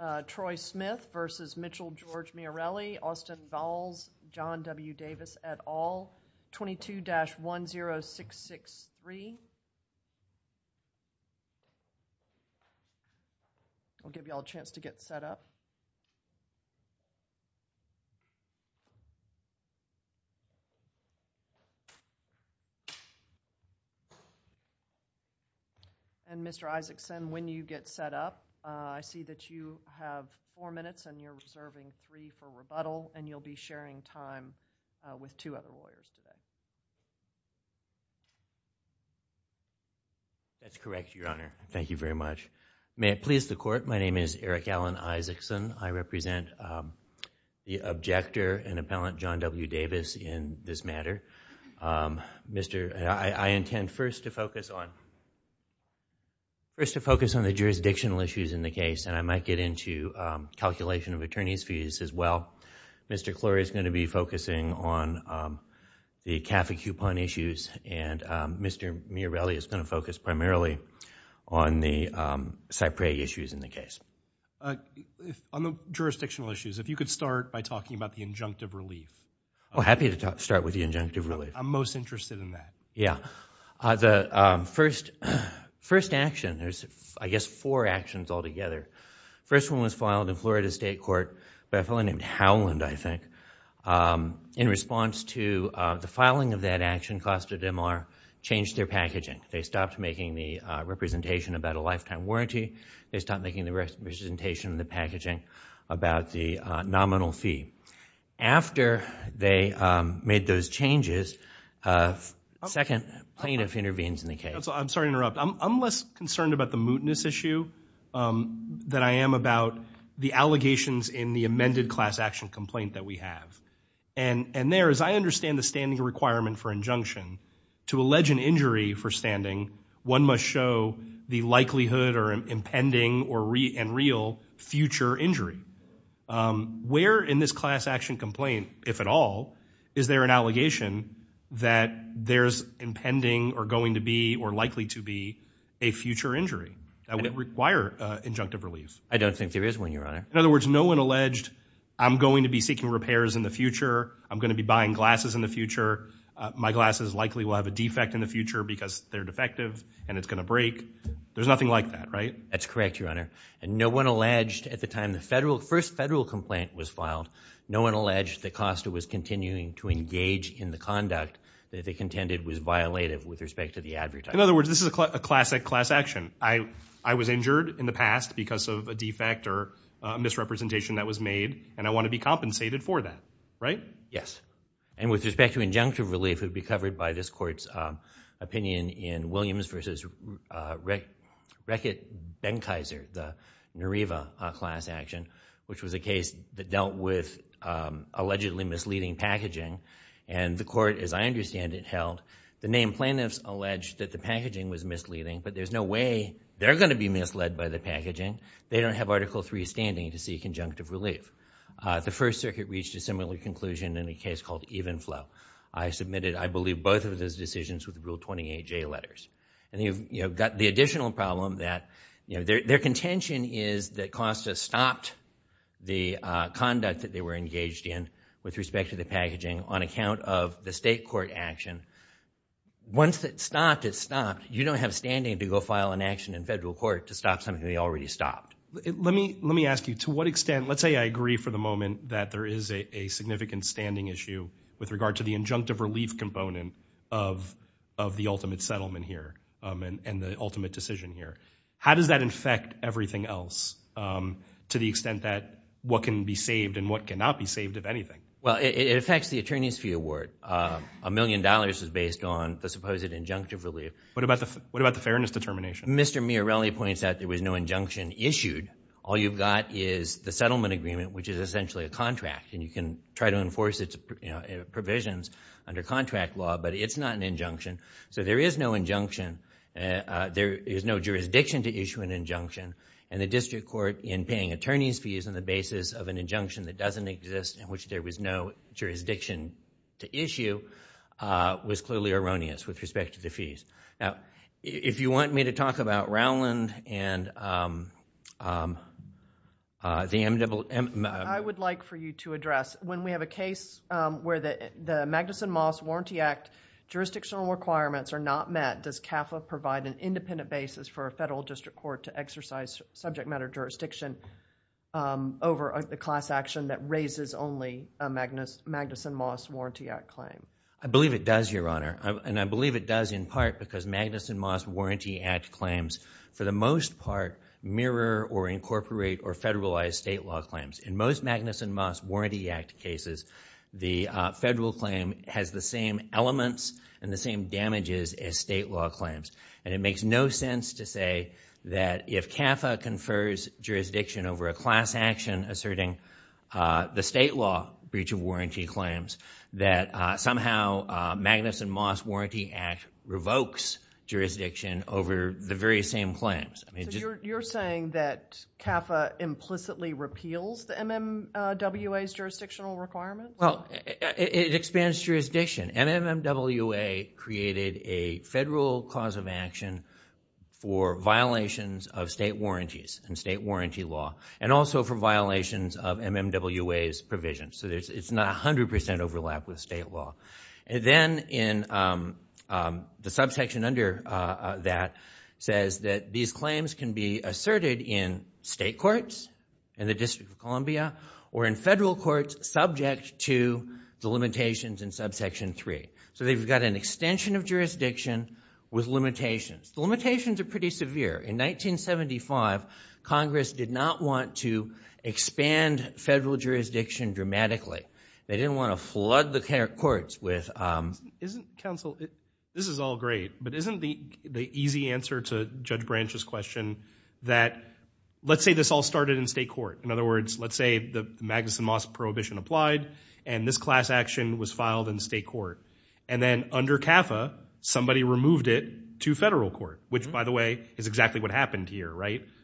Austin Dahls, John W. Davis, et al. 22-10663 I'll give y'all a chance to get set up. And, Mr. Isakson, when you get set up, I see that you have four minutes and you're reserving three for rebuttal, and you'll be sharing time with two other lawyers today. That's correct, Your Honor. Thank you very much. May it please the Court, my name is Eric Allen Isakson. I represent the objector and appellant, John W. Davis, in this matter. I intend first to focus on the jurisdictional issues in the case, and I might get into calculation of attorney's fees as well. Mr. Clorey is going to be focusing on the CAFI coupon issues, and Mr. Miorelli is going to focus primarily on the Cypreg issues in the case. On the jurisdictional issues, if you could start by talking about the injunctive relief. I'm happy to start with the injunctive relief. I'm most interested in that. Yeah. The first action, there's I guess four actions altogether. First one was filed in Florida State Court by a fellow named Howland, I think, in response to the filing of that action, Costa de Mar, changed their packaging. They stopped making the representation about a lifetime warranty. They stopped making the representation of the packaging about the nominal fee. After they made those changes, a second plaintiff intervenes in the case. I'm sorry to interrupt. I'm less concerned about the mootness issue than I am about the allegations in the amended class action complaint that we have. And there, as I understand the standing requirement for injunction, to allege an injury for standing, one must show the likelihood or impending and real future injury. Where in this class action complaint, if at all, is there an allegation that there's impending or going to be or likely to be a future injury that would require injunctive relief? I don't think there is, Your Honor. In other words, no one alleged, I'm going to be seeking repairs in the future, I'm going to be buying glasses in the future, my glasses likely will have a defect in the future because they're defective and it's going to break. There's nothing like that, right? That's correct, Your Honor. And no one alleged at the time the first federal complaint was filed, no one alleged the cost it was continuing to engage in the conduct that they contended was violative with respect to the advertising. In other words, this is a classic class action. I was injured in the past because of a defect or misrepresentation that was made and I want to be compensated for that, right? Yes. And with respect to injunctive relief, it would be covered by this court's opinion in Williams v. Reckitt-Benkheiser, the Nariva class action, which was a case that dealt with allegedly misleading packaging and the court, as I understand it, held the name plaintiffs alleged that the packaging was misleading, but there's no way they're going to be misled by the packaging. They don't have Article III standing to seek injunctive relief. The First Circuit reached a similar conclusion in a case called Evenflow. I submitted, I believe, both of those decisions with the Rule 28J letters and you've got the additional problem that their contention is that Costa stopped the conduct that they were engaged in with respect to the packaging on account of the state court action. Once it's stopped, it's stopped. You don't have standing to go file an action in federal court to stop something they already stopped. Let me ask you, to what extent, let's say I agree for the moment that there is a significant standing issue with regard to the injunctive relief component of the ultimate settlement here and the ultimate decision here. How does that affect everything else to the extent that what can be saved and what cannot be saved, if anything? Well, it affects the attorney's fee award. A million dollars is based on the supposed injunctive relief. What about the fairness determination? Mr. Miarelli points out there was no injunction issued. All you've got is the settlement agreement, which is essentially a contract and you can try to enforce its provisions under contract law, but it's not an injunction. There is no injunction. There is no jurisdiction to issue an injunction and the district court in paying attorney's fees on the basis of an injunction that doesn't exist in which there was no jurisdiction to issue was clearly erroneous with respect to the fees. Now, if you want me to talk about Rowland and the MW... I would like for you to address, when we have a case where the Magnuson-Moss Warranty Act jurisdictional requirements are not met, does CAFA provide an independent basis for a federal district court to exercise subject matter jurisdiction over a class action that raises only a Magnuson-Moss Warranty Act claim? I believe it does, Your Honor. I believe it does in part because Magnuson-Moss Warranty Act claims, for the most part, mirror or incorporate or federalize state law claims. In most Magnuson-Moss Warranty Act cases, the federal claim has the same elements and the same damages as state law claims. It makes no sense to say that if CAFA confers jurisdiction over a class action asserting the state law breach of warranty claims that somehow Magnuson-Moss Warranty Act revokes jurisdiction over the very same claims. You're saying that CAFA implicitly repeals the MMWA's jurisdictional requirements? It expands jurisdiction. MMWA created a federal cause of action for violations of state warranties and state warranty violations of MMWA's provisions. It's not 100% overlapped with state law. Then the subsection under that says that these claims can be asserted in state courts in the District of Columbia or in federal courts subject to the limitations in subsection 3. They've got an extension of jurisdiction with limitations. The limitations are pretty severe. In 1975, Congress did not want to expand federal jurisdiction dramatically. They didn't want to flood the courts with... Isn't counsel, this is all great, but isn't the easy answer to Judge Branch's question that, let's say this all started in state court. In other words, let's say the Magnuson-Moss prohibition applied and this class action was filed in state court. Then under CAFA, somebody removed it to federal court, which, by the way, is exactly what happened here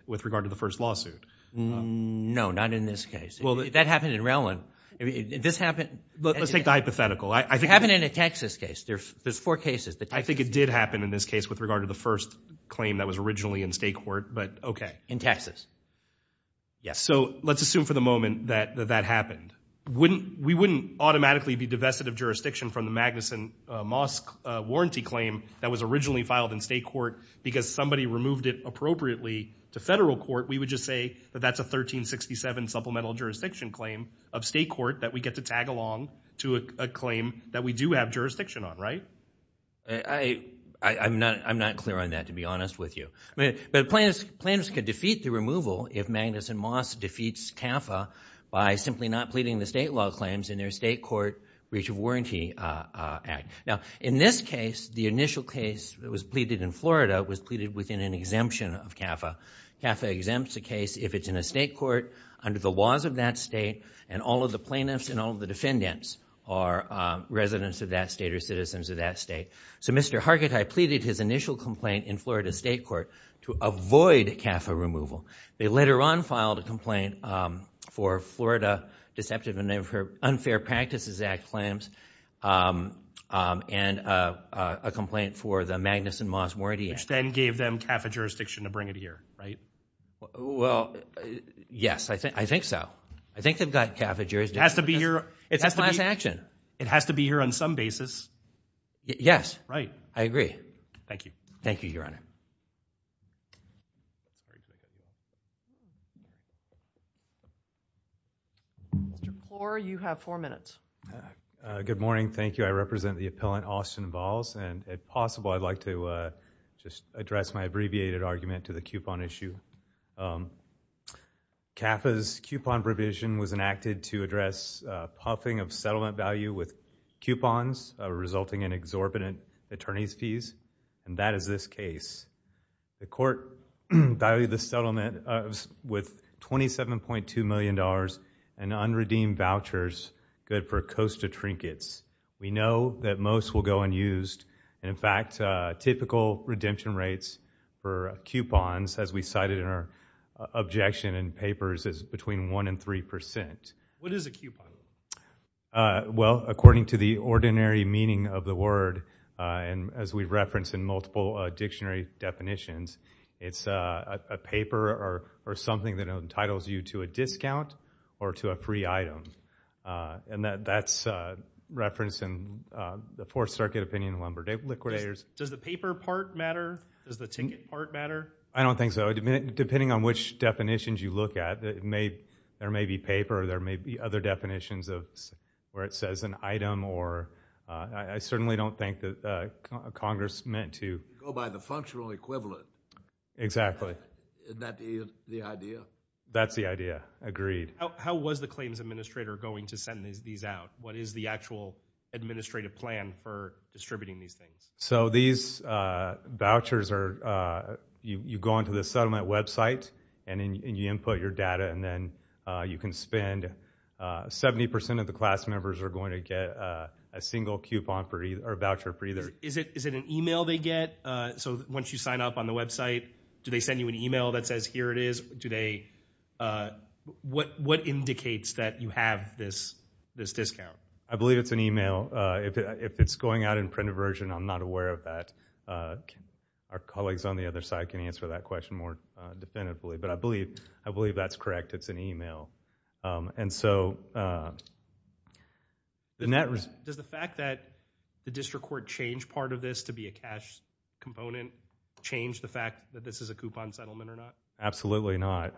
with regard to the first lawsuit. No, not in this case. That happened in Rellin. This happened... Let's take the hypothetical. It happened in a Texas case. There's four cases. I think it did happen in this case with regard to the first claim that was originally in state court, but okay. In Texas. Yes. Let's assume for the moment that that happened. We wouldn't automatically be divested of jurisdiction from the Magnuson-Moss warranty claim that was originally filed in state court because somebody removed it appropriately to federal court. We would just say that that's a 1367 supplemental jurisdiction claim of state court that we get to tag along to a claim that we do have jurisdiction on, right? I'm not clear on that, to be honest with you, but plaintiffs could defeat the removal if they're not pleading the state law claims in their state court breach of warranty act. Now, in this case, the initial case that was pleaded in Florida was pleaded within an exemption of CAFA. CAFA exempts a case if it's in a state court under the laws of that state, and all of the plaintiffs and all of the defendants are residents of that state or citizens of that state. Mr. Hargitay pleaded his initial complaint in Florida state court to avoid CAFA removal. They later on filed a complaint for Florida Deceptive and Unfair Practices Act claims and a complaint for the Magnuson-Moss warranty act. Which then gave them CAFA jurisdiction to bring it here, right? Well, yes, I think so. I think they've got CAFA jurisdiction. It has to be here. It's a class action. It has to be here on some basis. Yes. Right. I agree. Thank you. Mr. Kaur, you have four minutes. Good morning. Thank you. I represent the appellant, Austin Valls. If possible, I'd like to just address my abbreviated argument to the coupon issue. CAFA's coupon provision was enacted to address puffing of settlement value with coupons resulting in exorbitant attorney's fees, and that is this case. The court valued the settlement with $27.2 million in unredeemed vouchers, good for Costa Trinkets. We know that most will go unused, and in fact, typical redemption rates for coupons, as we cited in our objection in papers, is between 1% and 3%. What is a coupon? Well, according to the ordinary meaning of the word, and as we've referenced in multiple dictionary definitions, it's a paper or something that entitles you to a discount or to a pre-item, and that's referenced in the Fourth Circuit Opinion of Lumber Day Liquidators. Does the paper part matter? Does the ticket part matter? I don't think so. Depending on which definitions you look at, there may be paper, there may be other definitions of where it says an item, or I certainly don't think that Congress meant to go by the functional equivalent. Exactly. Isn't that the idea? That's the idea. Agreed. How was the claims administrator going to send these out? What is the actual administrative plan for distributing these things? So these vouchers are, you go onto the settlement website, and then you input your data, and then you can spend, 70% of the class members are going to get a single voucher for either. Is it an email they get? So once you sign up on the website, do they send you an email that says, here it is? What indicates that you have this discount? I believe it's an email. If it's going out in printed version, I'm not aware of that. Our colleagues on the other side can answer that question more definitively, but I believe that's correct. It's an email. Does the fact that the district court changed part of this to be a cash component change the fact that this is a coupon settlement or not? Absolutely not.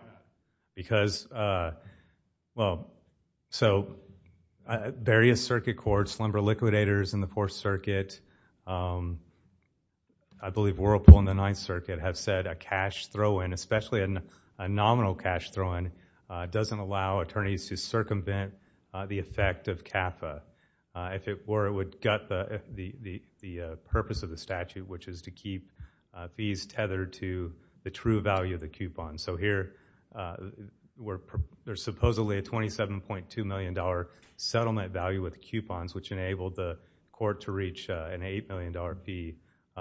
Various circuit courts, slumber liquidators in the Fourth Circuit, I believe Whirlpool and the Ninth Circuit have said a cash throw-in, especially a nominal cash throw-in, doesn't allow attorneys to circumvent the effect of CAFA. If it were, it would gut the purpose of the statute, which is to keep fees tethered to the true value of the coupon. So here, there's supposedly a $27.2 million settlement value with coupons, which enabled the court to reach an $8 million fee.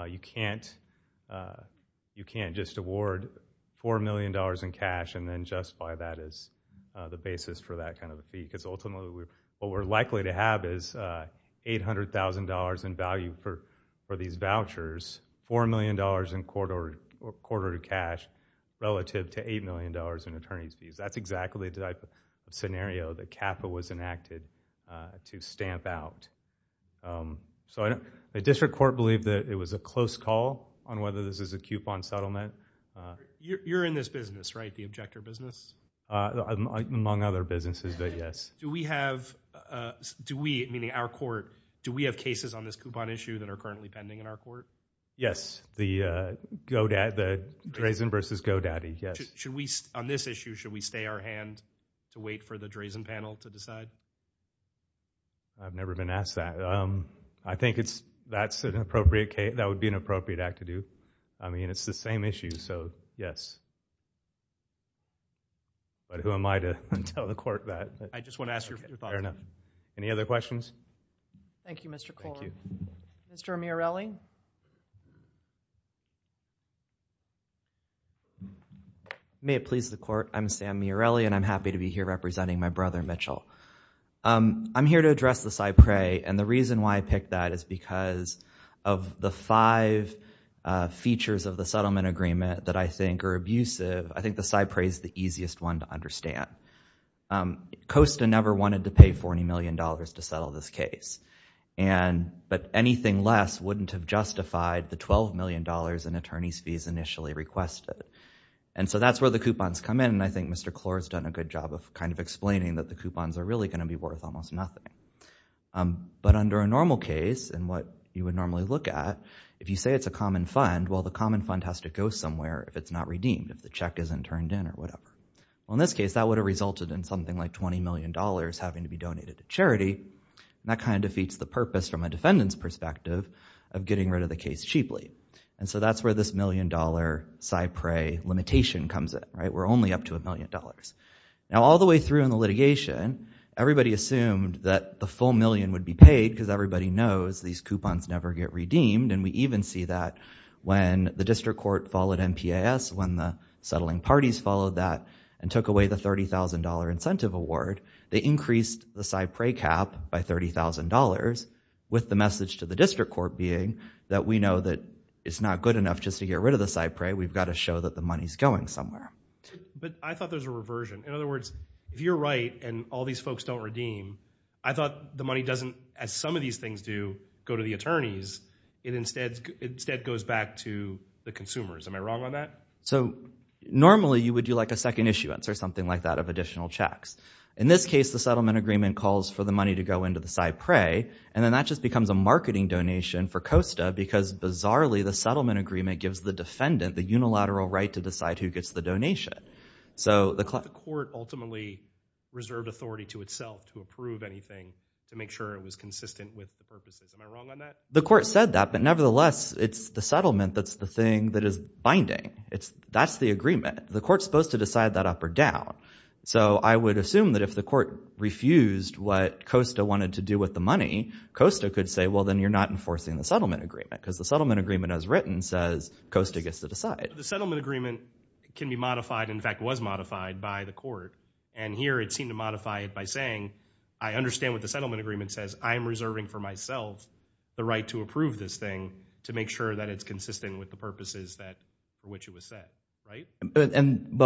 You can't just award $4 million in cash and then justify that as the basis for that kind of fee. Ultimately, what we're likely to have is $800,000 in value for these vouchers, $4 million in court-ordered cash relative to $8 million in attorney's fees. That's exactly the type of scenario that CAFA was enacted to stamp out. The district court believed that it was a close call on whether this is a coupon settlement. You're in this business, right? The objector business? Among other businesses, yes. Do we have, meaning our court, do we have cases on this coupon issue that are currently pending in our court? Yes. The Drazen versus GoDaddy, yes. On this issue, should we stay our hand to wait for the Drazen panel to decide? I've never been asked that. I think that would be an appropriate act to do. I mean, it's the same issue, so yes. But who am I to tell the court that? I just want to ask your thoughts. Fair enough. Any other questions? Thank you, Mr. Coleman. Thank you. Mr. Miarelli? May it please the court, I'm Sam Miarelli, and I'm happy to be here representing my I'm here to address the CyPrae, and the reason why I picked that is because of the five features of the settlement agreement that I think are abusive, I think the CyPrae is the easiest one to understand. Costa never wanted to pay $40 million to settle this case, but anything less wouldn't have justified the $12 million in attorney's fees initially requested. And so that's where the coupons come in, and I think Mr. Klor has done a good job of kind of saying that the coupons are really going to be worth almost nothing. But under a normal case, and what you would normally look at, if you say it's a common fund, well, the common fund has to go somewhere if it's not redeemed, if the check isn't turned in or whatever. Well, in this case, that would have resulted in something like $20 million having to be donated to charity, and that kind of defeats the purpose from a defendant's perspective of getting rid of the case cheaply. And so that's where this million dollar CyPrae limitation comes in, right? We're only up to a million dollars. Now, all the way through in the litigation, everybody assumed that the full million would be paid because everybody knows these coupons never get redeemed, and we even see that when the district court followed MPAS, when the settling parties followed that and took away the $30,000 incentive award, they increased the CyPrae cap by $30,000, with the message to the district court being that we know that it's not good enough just to get rid of the CyPrae. We've got to show that the money's going somewhere. But I thought there's a reversion. In other words, if you're right, and all these folks don't redeem, I thought the money doesn't, as some of these things do, go to the attorneys, it instead goes back to the consumers. Am I wrong on that? So normally, you would do like a second issuance or something like that of additional checks. In this case, the settlement agreement calls for the money to go into the CyPrae, and then that just becomes a marketing donation for COSTA, because bizarrely, the settlement agreement gives the defendant the unilateral right to decide who gets the donation. So the court ultimately reserved authority to itself to approve anything to make sure it was consistent with the purposes. Am I wrong on that? The court said that, but nevertheless, it's the settlement that's the thing that is binding. That's the agreement. The court's supposed to decide that up or down. So I would assume that if the court refused what COSTA wanted to do with the money, COSTA could say, well, then you're not enforcing the settlement agreement, because the settlement agreement as written says COSTA gets to decide. The settlement agreement can be modified, in fact, was modified by the court. And here, it seemed to modify it by saying, I understand what the settlement agreement says. I'm reserving for myself the right to approve this thing to make sure that it's consistent with the purposes for which it was set, right? And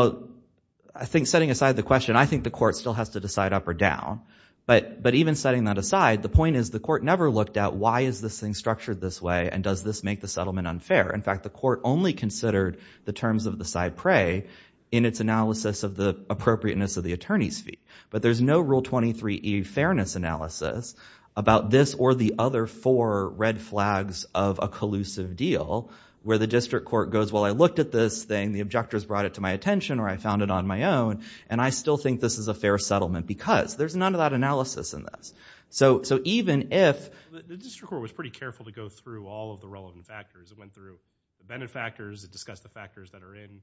I think setting aside the question, I think the court still has to decide up or down. But even setting that aside, the point is the court never looked at why is this thing a settlement unfair? In fact, the court only considered the terms of the side prey in its analysis of the appropriateness of the attorney's fee. But there's no Rule 23E fairness analysis about this or the other four red flags of a collusive deal, where the district court goes, well, I looked at this thing. The objectors brought it to my attention, or I found it on my own. And I still think this is a fair settlement, because there's none of that analysis in this. So even if— I think the court was pretty careful to go through all of the relevant factors. It went through the benefactors, it discussed the factors that are in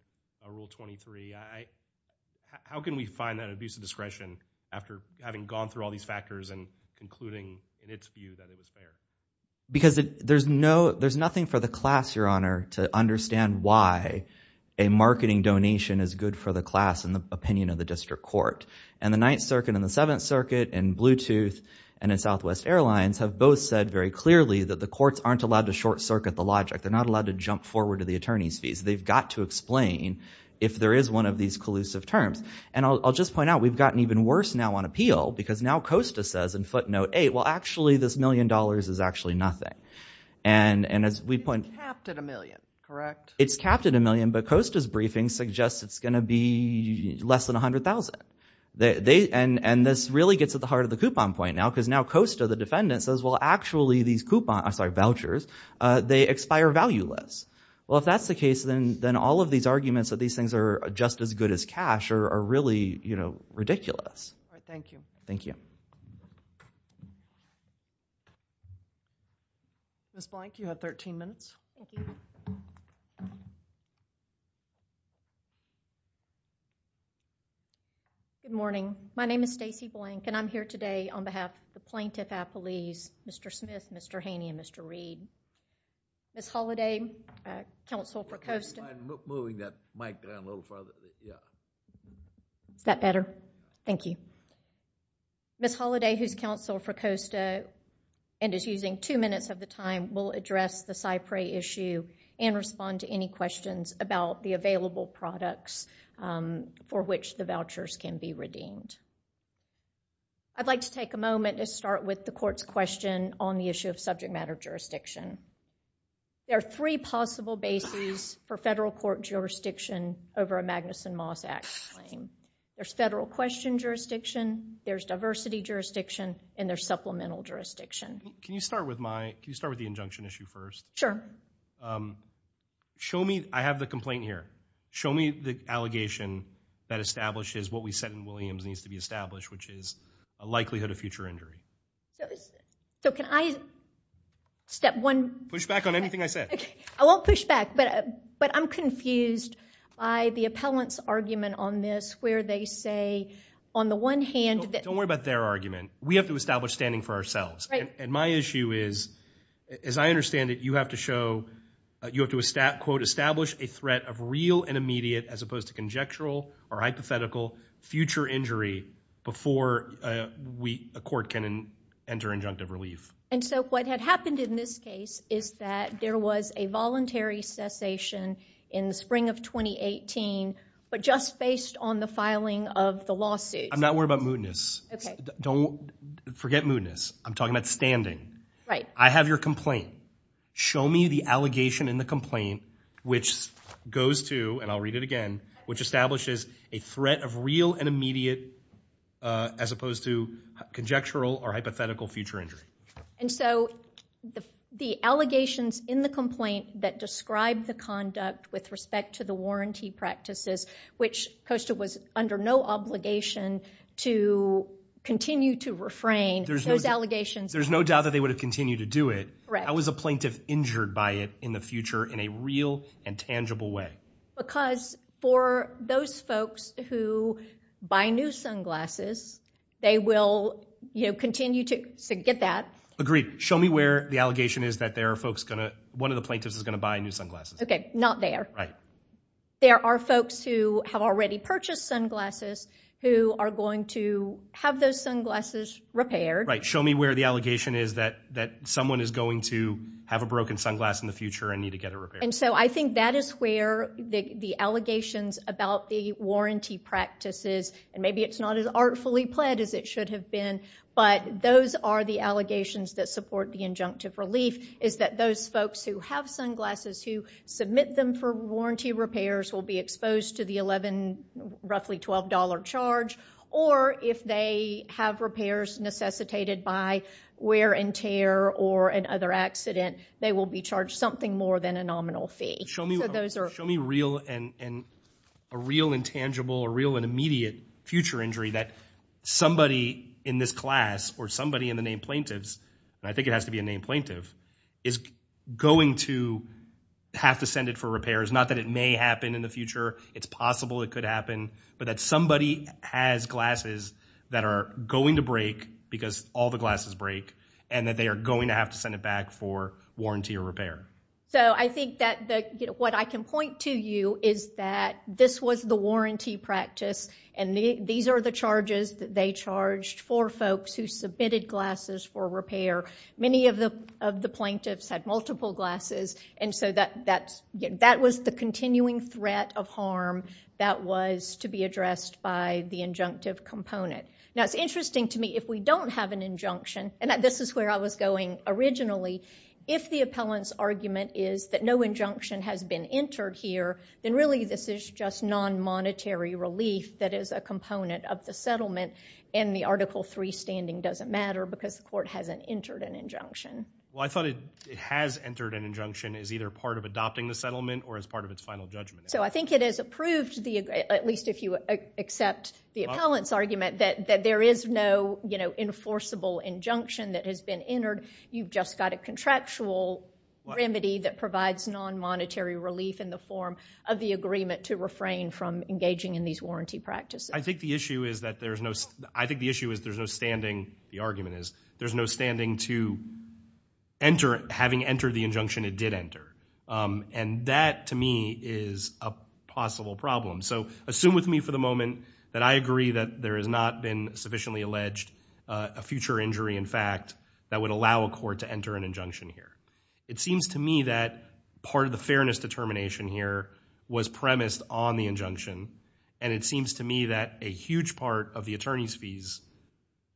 Rule 23. How can we find that abuse of discretion after having gone through all these factors and concluding in its view that it is fair? Because there's no—there's nothing for the class, Your Honor, to understand why a marketing donation is good for the class in the opinion of the district court. And the Ninth Circuit and the Seventh Circuit and Bluetooth and Southwest Airlines have both said very clearly that the courts aren't allowed to short-circuit the logic. They're not allowed to jump forward to the attorney's fees. They've got to explain if there is one of these collusive terms. And I'll just point out, we've gotten even worse now on appeal, because now Costa says in footnote 8, well, actually, this million dollars is actually nothing. And as we point— It's capped at a million, correct? It's capped at a million, but Costa's briefing suggests it's going to be less than $100,000. And this really gets at the heart of the coupon point now, because now Costa, the defendant, says, well, actually, these vouchers, they expire valueless. Well, if that's the case, then all of these arguments that these things are just as good as cash are really, you know, ridiculous. All right. Thank you. Thank you. Ms. Blank, you have 13 minutes. Thank you. Good morning. My name is Stacey Blank, and I'm here today on behalf of the plaintiff appellees, Mr. Smith, Mr. Haney, and Mr. Reed. Ms. Holliday, counsel for Costa— Would you mind moving that mic down a little farther? Yeah. Is that better? Thank you. Ms. Holliday, who's counsel for Costa and is using two minutes of the time, will address the Cypre issue and respond to any questions about the available products for which the I'd like to take a moment to start with the court's question on the issue of subject matter jurisdiction. There are three possible bases for federal court jurisdiction over a Magnuson-Moss Act claim. There's federal question jurisdiction, there's diversity jurisdiction, and there's supplemental jurisdiction. Can you start with my—can you start with the injunction issue first? Sure. Show me—I have the complaint here. Show me the allegation that establishes what we said in Williams needs to be established, which is a likelihood of future injury. So can I—step one— Push back on anything I said. Okay. I won't push back, but I'm confused by the appellant's argument on this where they say, on the one hand— Don't worry about their argument. We have to establish standing for ourselves. And my issue is, as I understand it, you have to show—you have to quote, establish a threat of real and immediate, as opposed to conjectural or hypothetical, future injury before a court can enter injunctive relief. And so what had happened in this case is that there was a voluntary cessation in the spring of 2018, but just based on the filing of the lawsuit. I'm not worried about mootness. Okay. Don't—forget mootness. I'm talking about standing. Right. I have your complaint. Show me the allegation in the complaint which goes to—and I'll read it again—which establishes a threat of real and immediate, as opposed to conjectural or hypothetical, future injury. And so the allegations in the complaint that describe the conduct with respect to the warranty practices, which Costa was under no obligation to continue to refrain, those allegations— There's no doubt that they would have continued to do it. Correct. I was a plaintiff injured by it in the future in a real and tangible way. Because for those folks who buy new sunglasses, they will, you know, continue to get that. Agreed. Show me where the allegation is that there are folks gonna—one of the plaintiffs is gonna buy new sunglasses. Okay. Not there. Right. There are folks who have already purchased sunglasses who are going to have those sunglasses repaired. Right. Show me where the allegation is that someone is going to have a broken sunglass in the future and need to get a repair. And so I think that is where the allegations about the warranty practices—and maybe it's not as artfully pled as it should have been, but those are the allegations that support the injunctive relief—is that those folks who have sunglasses who submit them for warranty repairs will be exposed to the roughly $12 charge, or if they have repairs necessitated by wear and tear or an other accident, they will be charged something more than a nominal fee. So those are— Show me real and—a real and tangible, a real and immediate future injury that somebody in this class or somebody in the name plaintiffs—and I think it has to be a name plaintiff—is going to have to send it for repairs. Not that it may happen in the future, it's possible it could happen, but that somebody has glasses that are going to break because all the glasses break, and that they are going to have to send it back for warranty or repair. So I think that what I can point to you is that this was the warranty practice, and these are the charges that they charged for folks who submitted glasses for repair. Many of the plaintiffs had multiple glasses, and so that was the continuing threat of harm that was to be addressed by the injunctive component. Now it's interesting to me, if we don't have an injunction—and this is where I was going originally—if the appellant's argument is that no injunction has been entered here, then really this is just non-monetary relief that is a component of the settlement, and the Article III standing doesn't matter because the court hasn't entered an injunction. Well, I thought it has entered an injunction as either part of adopting the settlement or as part of its final judgment. So I think it has approved, at least if you accept the appellant's argument, that there is no enforceable injunction that has been entered. You've just got a contractual remedy that provides non-monetary relief in the form of the agreement to refrain from engaging in these warranty practices. I think the issue is that there's no—I think the issue is there's no standing—the argument is—there's no standing to enter—having entered the injunction, it did enter. And that, to me, is a possible problem. So assume with me for the moment that I agree that there has not been sufficiently alleged a future injury, in fact, that would allow a court to enter an injunction here. It seems to me that part of the fairness determination here was premised on the injunction, and it seems to me that a huge part of the attorney's fees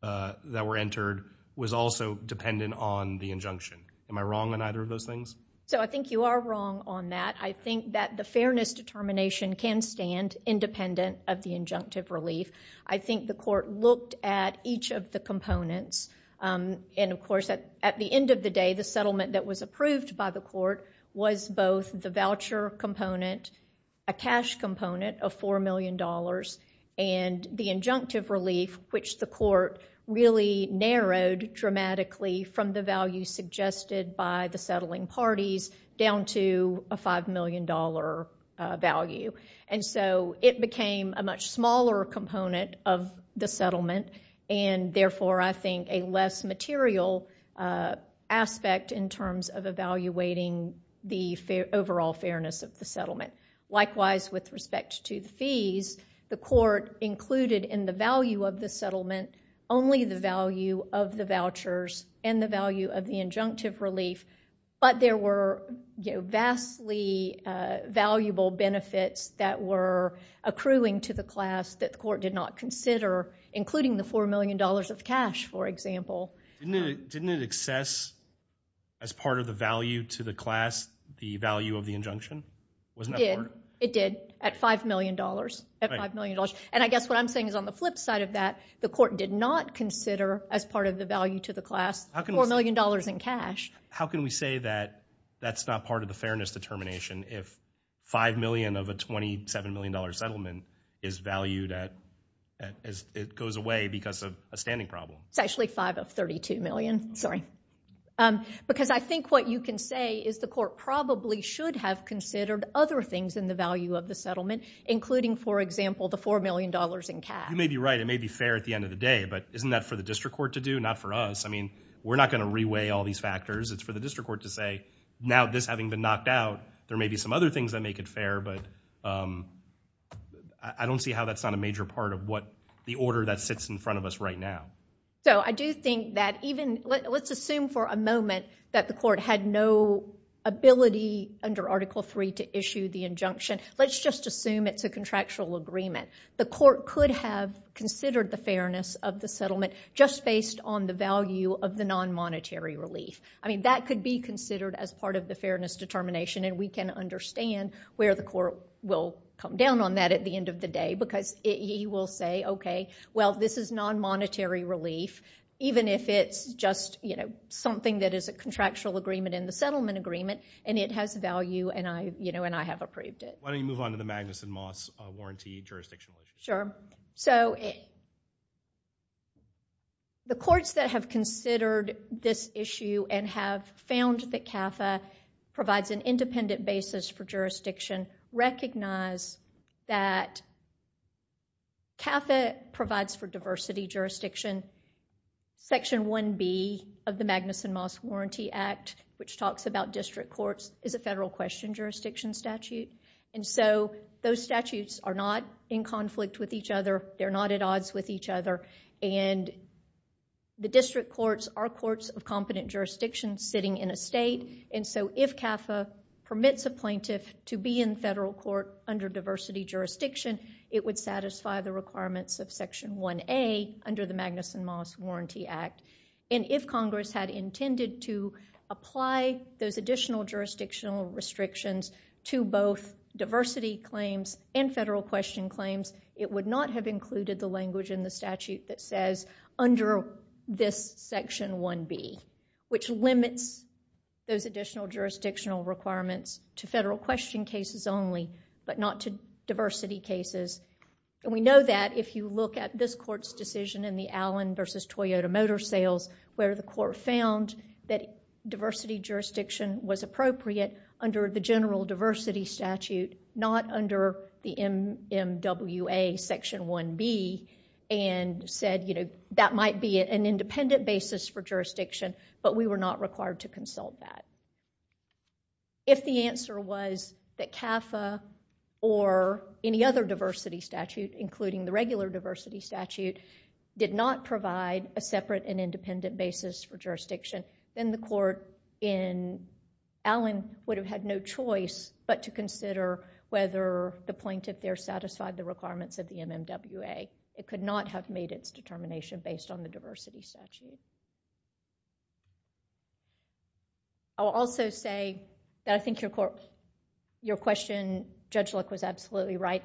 that were entered was also dependent on the injunction. Am I wrong on either of those things? So I think you are wrong on that. I think that the fairness determination can stand independent of the injunctive relief. I think the court looked at each of the components, and of course, at the end of the day, the settlement that was approved by the court was both the voucher component, a cash component of $4 million, and the injunctive relief, which the court really narrowed dramatically from the value suggested by the settling parties down to a $5 million value. And so it became a much smaller component of the settlement, and therefore, I think, a less material aspect in terms of evaluating the overall fairness of the settlement. Likewise, with respect to the fees, the court included in the value of the settlement only the value of the vouchers and the value of the injunctive relief, but there were vastly valuable benefits that were accruing to the class that the court did not consider, including the $4 million of cash, for example. Didn't it access, as part of the value to the class, the value of the injunction? Wasn't that part? It did. It did, at $5 million, at $5 million. And I guess what I'm saying is, on the flip side of that, the court did not consider, as part of the value to the class, $4 million in cash. How can we say that that's not part of the fairness determination if $5 million of a $27 million settlement is valued as it goes away because of a standing problem? It's actually 5 of 32 million, sorry. Because I think what you can say is the court probably should have considered other things in the value of the settlement, including, for example, the $4 million in cash. You may be right. It may be fair at the end of the day, but isn't that for the district court to do, not for us? I mean, we're not going to reweigh all these factors. It's for the district court to say, now this having been knocked out, there may be some other things that make it fair, but I don't see how that's not a major part of what the order that sits in front of us right now. So I do think that even, let's assume for a moment that the court had no ability under Article III to issue the injunction. Let's just assume it's a contractual agreement. The court could have considered the fairness of the settlement just based on the value of the non-monetary relief. That could be considered as part of the fairness determination, and we can understand where the court will come down on that at the end of the day. Because he will say, OK, well, this is non-monetary relief, even if it's just something that is a contractual agreement in the settlement agreement, and it has value, and I have approved it. Why don't you move on to the Magnuson-Moss Warranty Jurisdiction? Sure. So the courts that have considered this issue and have found that CAFA provides an independent basis for jurisdiction recognize that CAFA provides for diversity jurisdiction. Section 1B of the Magnuson-Moss Warranty Act, which talks about district courts, is a federal question jurisdiction statute. Those statutes are not in conflict with each other. They're not at odds with each other. The district courts are courts of competent jurisdiction sitting in a state, and so if CAFA permits a plaintiff to be in federal court under diversity jurisdiction, it would And if Congress had intended to apply those additional jurisdictional restrictions to both diversity claims and federal question claims, it would not have included the language in the statute that says, under this section 1B, which limits those additional jurisdictional requirements to federal question cases only, but not to diversity cases. We know that if you look at this court's decision in the Allen v. Toyota Motor Sales, where the court found that diversity jurisdiction was appropriate under the general diversity statute, not under the MMWA Section 1B, and said, you know, that might be an independent basis for jurisdiction, but we were not required to consult that. If the answer was that CAFA or any other diversity statute, including the regular diversity statute, did not provide a separate and independent basis for jurisdiction, then the court in Allen would have had no choice but to consider whether the plaintiff there satisfied the requirements of the MMWA. It could not have made its determination based on the diversity statute. I will also say that I think your question, Judge Luck, was absolutely right.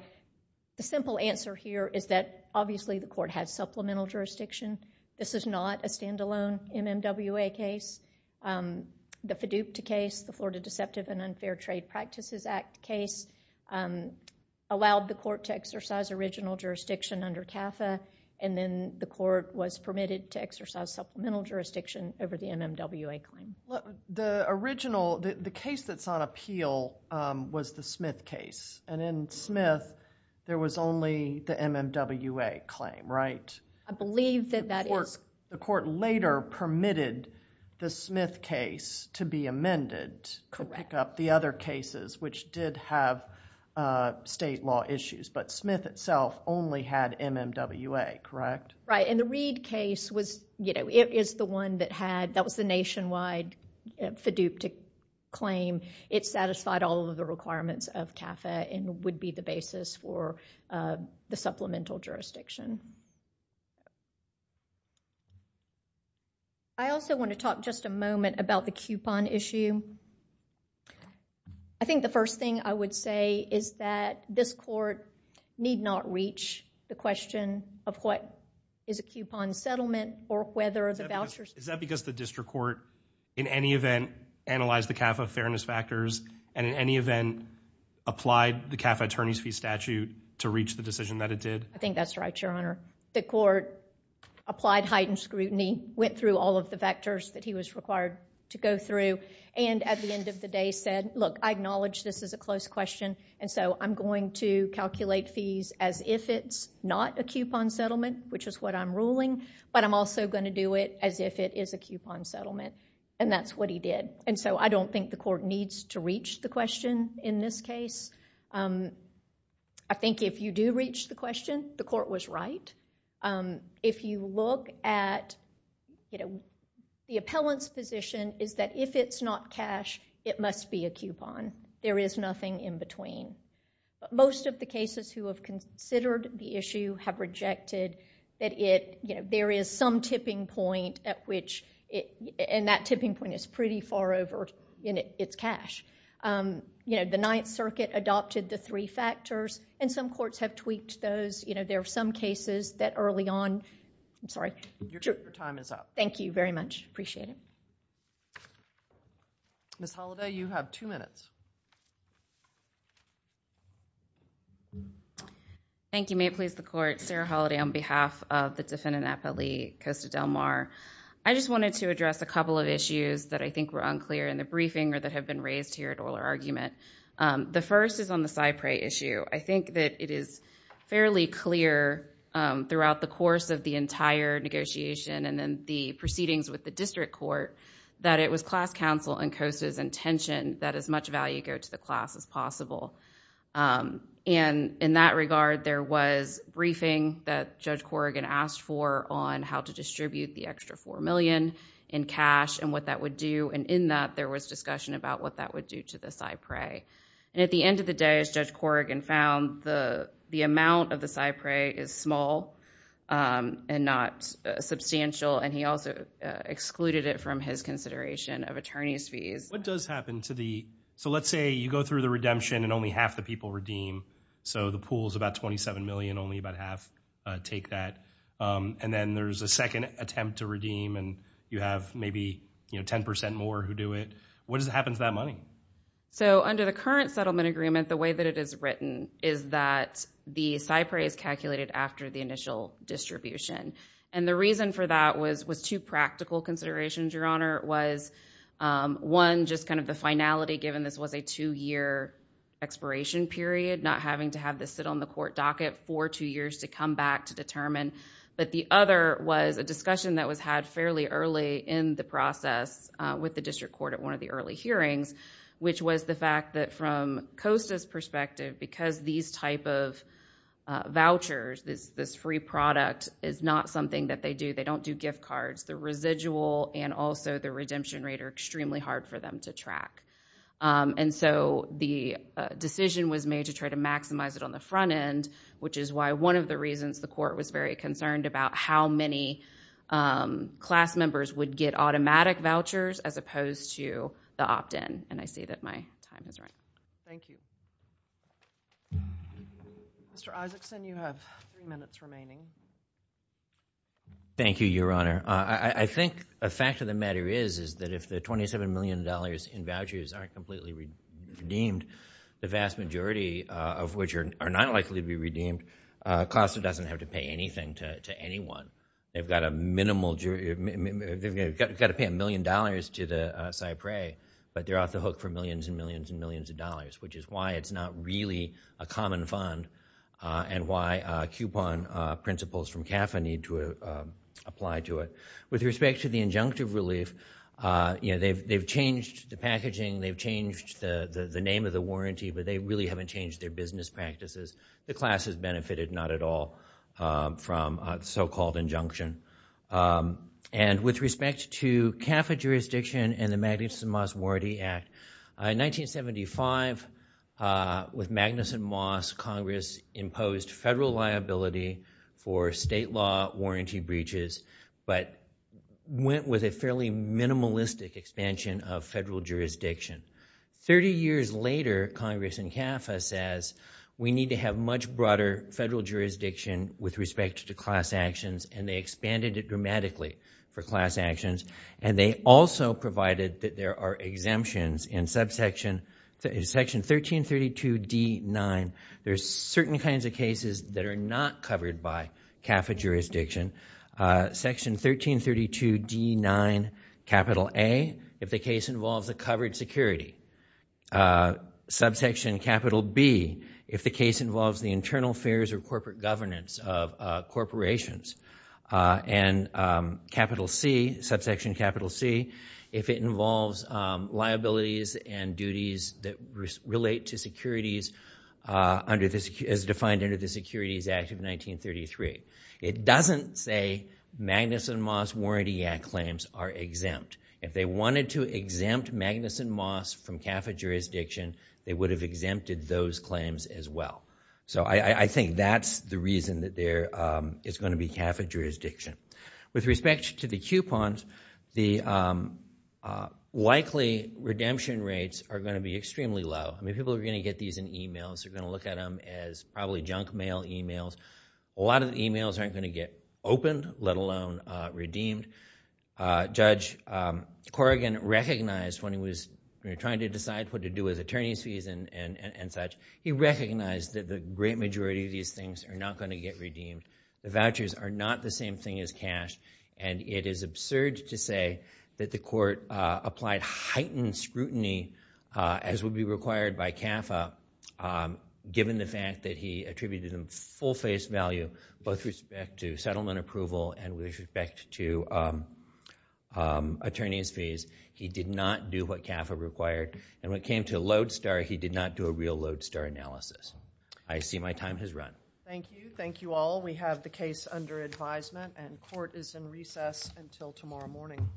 The simple answer here is that, obviously, the court has supplemental jurisdiction. This is not a standalone MMWA case. The FDUCA case, the Florida Deceptive and Unfair Trade Practices Act case, allowed the court to exercise original jurisdiction under CAFA, and then the court was permitted to have supplemental jurisdiction over the MMWA claim. The original, the case that's on appeal was the Smith case, and in Smith, there was only the MMWA claim, right? I believe that that is... The court later permitted the Smith case to be amended to pick up the other cases, which did have state law issues, but Smith itself only had MMWA, correct? Right, and the Reed case is the one that had... that was the nationwide FDUCA claim. It satisfied all of the requirements of CAFA and would be the basis for the supplemental jurisdiction. I also want to talk just a moment about the coupon issue. I think the first thing I would say is that this court need not reach the question of what is a coupon settlement or whether the vouchers... Is that because the district court, in any event, analyzed the CAFA fairness factors and in any event, applied the CAFA attorney's fee statute to reach the decision that it did? I think that's right, Your Honor. The court applied heightened scrutiny, went through all of the vectors that he was required to go through and at the end of the day said, look, I acknowledge this is a close question and so I'm going to calculate fees as if it's not a coupon settlement, which is what I'm ruling, but I'm also going to do it as if it is a coupon settlement and that's what he did. I don't think the court needs to reach the question in this case. I think if you do reach the question, the court was right. If you look at the appellant's position is that if it's not cash, it must be a coupon. There is nothing in between. Most of the cases who have considered the issue have rejected that there is some tipping point at which... and that tipping point is pretty far over in its cash. The Ninth Circuit adopted the three factors and some courts have tweaked those. There are some cases that early on... I'm sorry. Your time is up. Thank you very much. I appreciate it. Ms. Holliday, you have two minutes. Thank you. May it please the Court. Sarah Holliday on behalf of the defendant Appellee Costa Del Mar. I just wanted to address a couple of issues that I think were unclear in the briefing or that have been raised here at Euler Argument. The first is on the Cypre issue. I think that it is fairly clear throughout the course of the entire negotiation and then the proceedings with the district court that it was class counsel and Costa's intention that as much value go to the class as possible. In that regard, there was briefing that Judge Corrigan asked for on how to distribute the extra $4 million in cash and what that would do. In that, there was discussion about what that would do to the Cypre. At the end of the day, as Judge Corrigan found, the amount of the Cypre is small and not substantial and he also excluded it from his consideration of attorney's fees. What does happen to the... let's say you go through the redemption and only half the people redeem, so the pool is about $27 million, only about half take that, and then there's a second attempt to redeem and you have maybe 10% more who do it. What happens to that money? Under the current settlement agreement, the way that it is written is that the Cypre is calculated after the initial distribution. The reason for that was two practical considerations, Your Honor, was one, just the finality given this was a two-year expiration period, not having to have this sit on the court docket for two years to come back to determine, but the other was a discussion that was had fairly early in the process with the district court at one of the early hearings, which was the fact that from COSTA's perspective, because these type of vouchers, this free product is not something that they do, they don't do gift cards, the residual and also the redemption rate are extremely hard for them to track. The decision was made to try to maximize it on the front end, which is why one of the members would get automatic vouchers as opposed to the opt-in, and I see that my time is running. Thank you. Mr. Isakson, you have three minutes remaining. Thank you, Your Honor. I think a fact of the matter is that if the $27 million in vouchers aren't completely redeemed, the vast majority of which are not likely to be redeemed, COSTA doesn't have to pay anything to anyone. They've got to pay a million dollars to the Cypre, but they're off the hook for millions and millions and millions of dollars, which is why it's not really a common fund, and why coupon principles from CAFA need to apply to it. With respect to the injunctive relief, they've changed the packaging, they've changed the name of the warranty, but they really haven't changed their business practices. The class has benefited not at all from so-called injunction. With respect to CAFA jurisdiction and the Magnuson-Moss Warranty Act, in 1975, with Magnuson-Moss, Congress imposed federal liability for state law warranty breaches, but went with a fairly minimalistic expansion of federal jurisdiction. Thirty years later, Congress in CAFA says, we need to have much broader federal jurisdiction with respect to class actions, and they expanded it dramatically for class actions. They also provided that there are exemptions in Section 1332D9. There's certain kinds of cases that are not covered by CAFA jurisdiction. Section 1332D9, capital A, if the case involves a covered security. Subsection capital B, if the case involves the internal affairs or corporate governance of corporations, and capital C, subsection capital C, if it involves liabilities and duties that relate to securities as defined under the Securities Act of 1933. It doesn't say Magnuson-Moss Warranty Act claims are exempt. If they wanted to exempt Magnuson-Moss from CAFA jurisdiction, they would have exempted those claims as well. So I think that's the reason that there is going to be CAFA jurisdiction. With respect to the coupons, the likely redemption rates are going to be extremely low. I mean, people are going to get these in emails. They're going to look at them as probably junk mail emails. A lot of the emails aren't going to get opened, let alone redeemed. Judge Corrigan recognized when he was trying to decide what to do with attorney's fees and such, he recognized that the great majority of these things are not going to get redeemed. The vouchers are not the same thing as cash, and it is absurd to say that the court applied heightened scrutiny, as would be required by CAFA, given the fact that he attributed them full face value, both with respect to settlement approval and with respect to attorney's fees. He did not do what CAFA required, and when it came to a lodestar, he did not do a real lodestar analysis. I see my time has run. Thank you. Thank you all. We have the case under advisement, and court is in recess until tomorrow morning.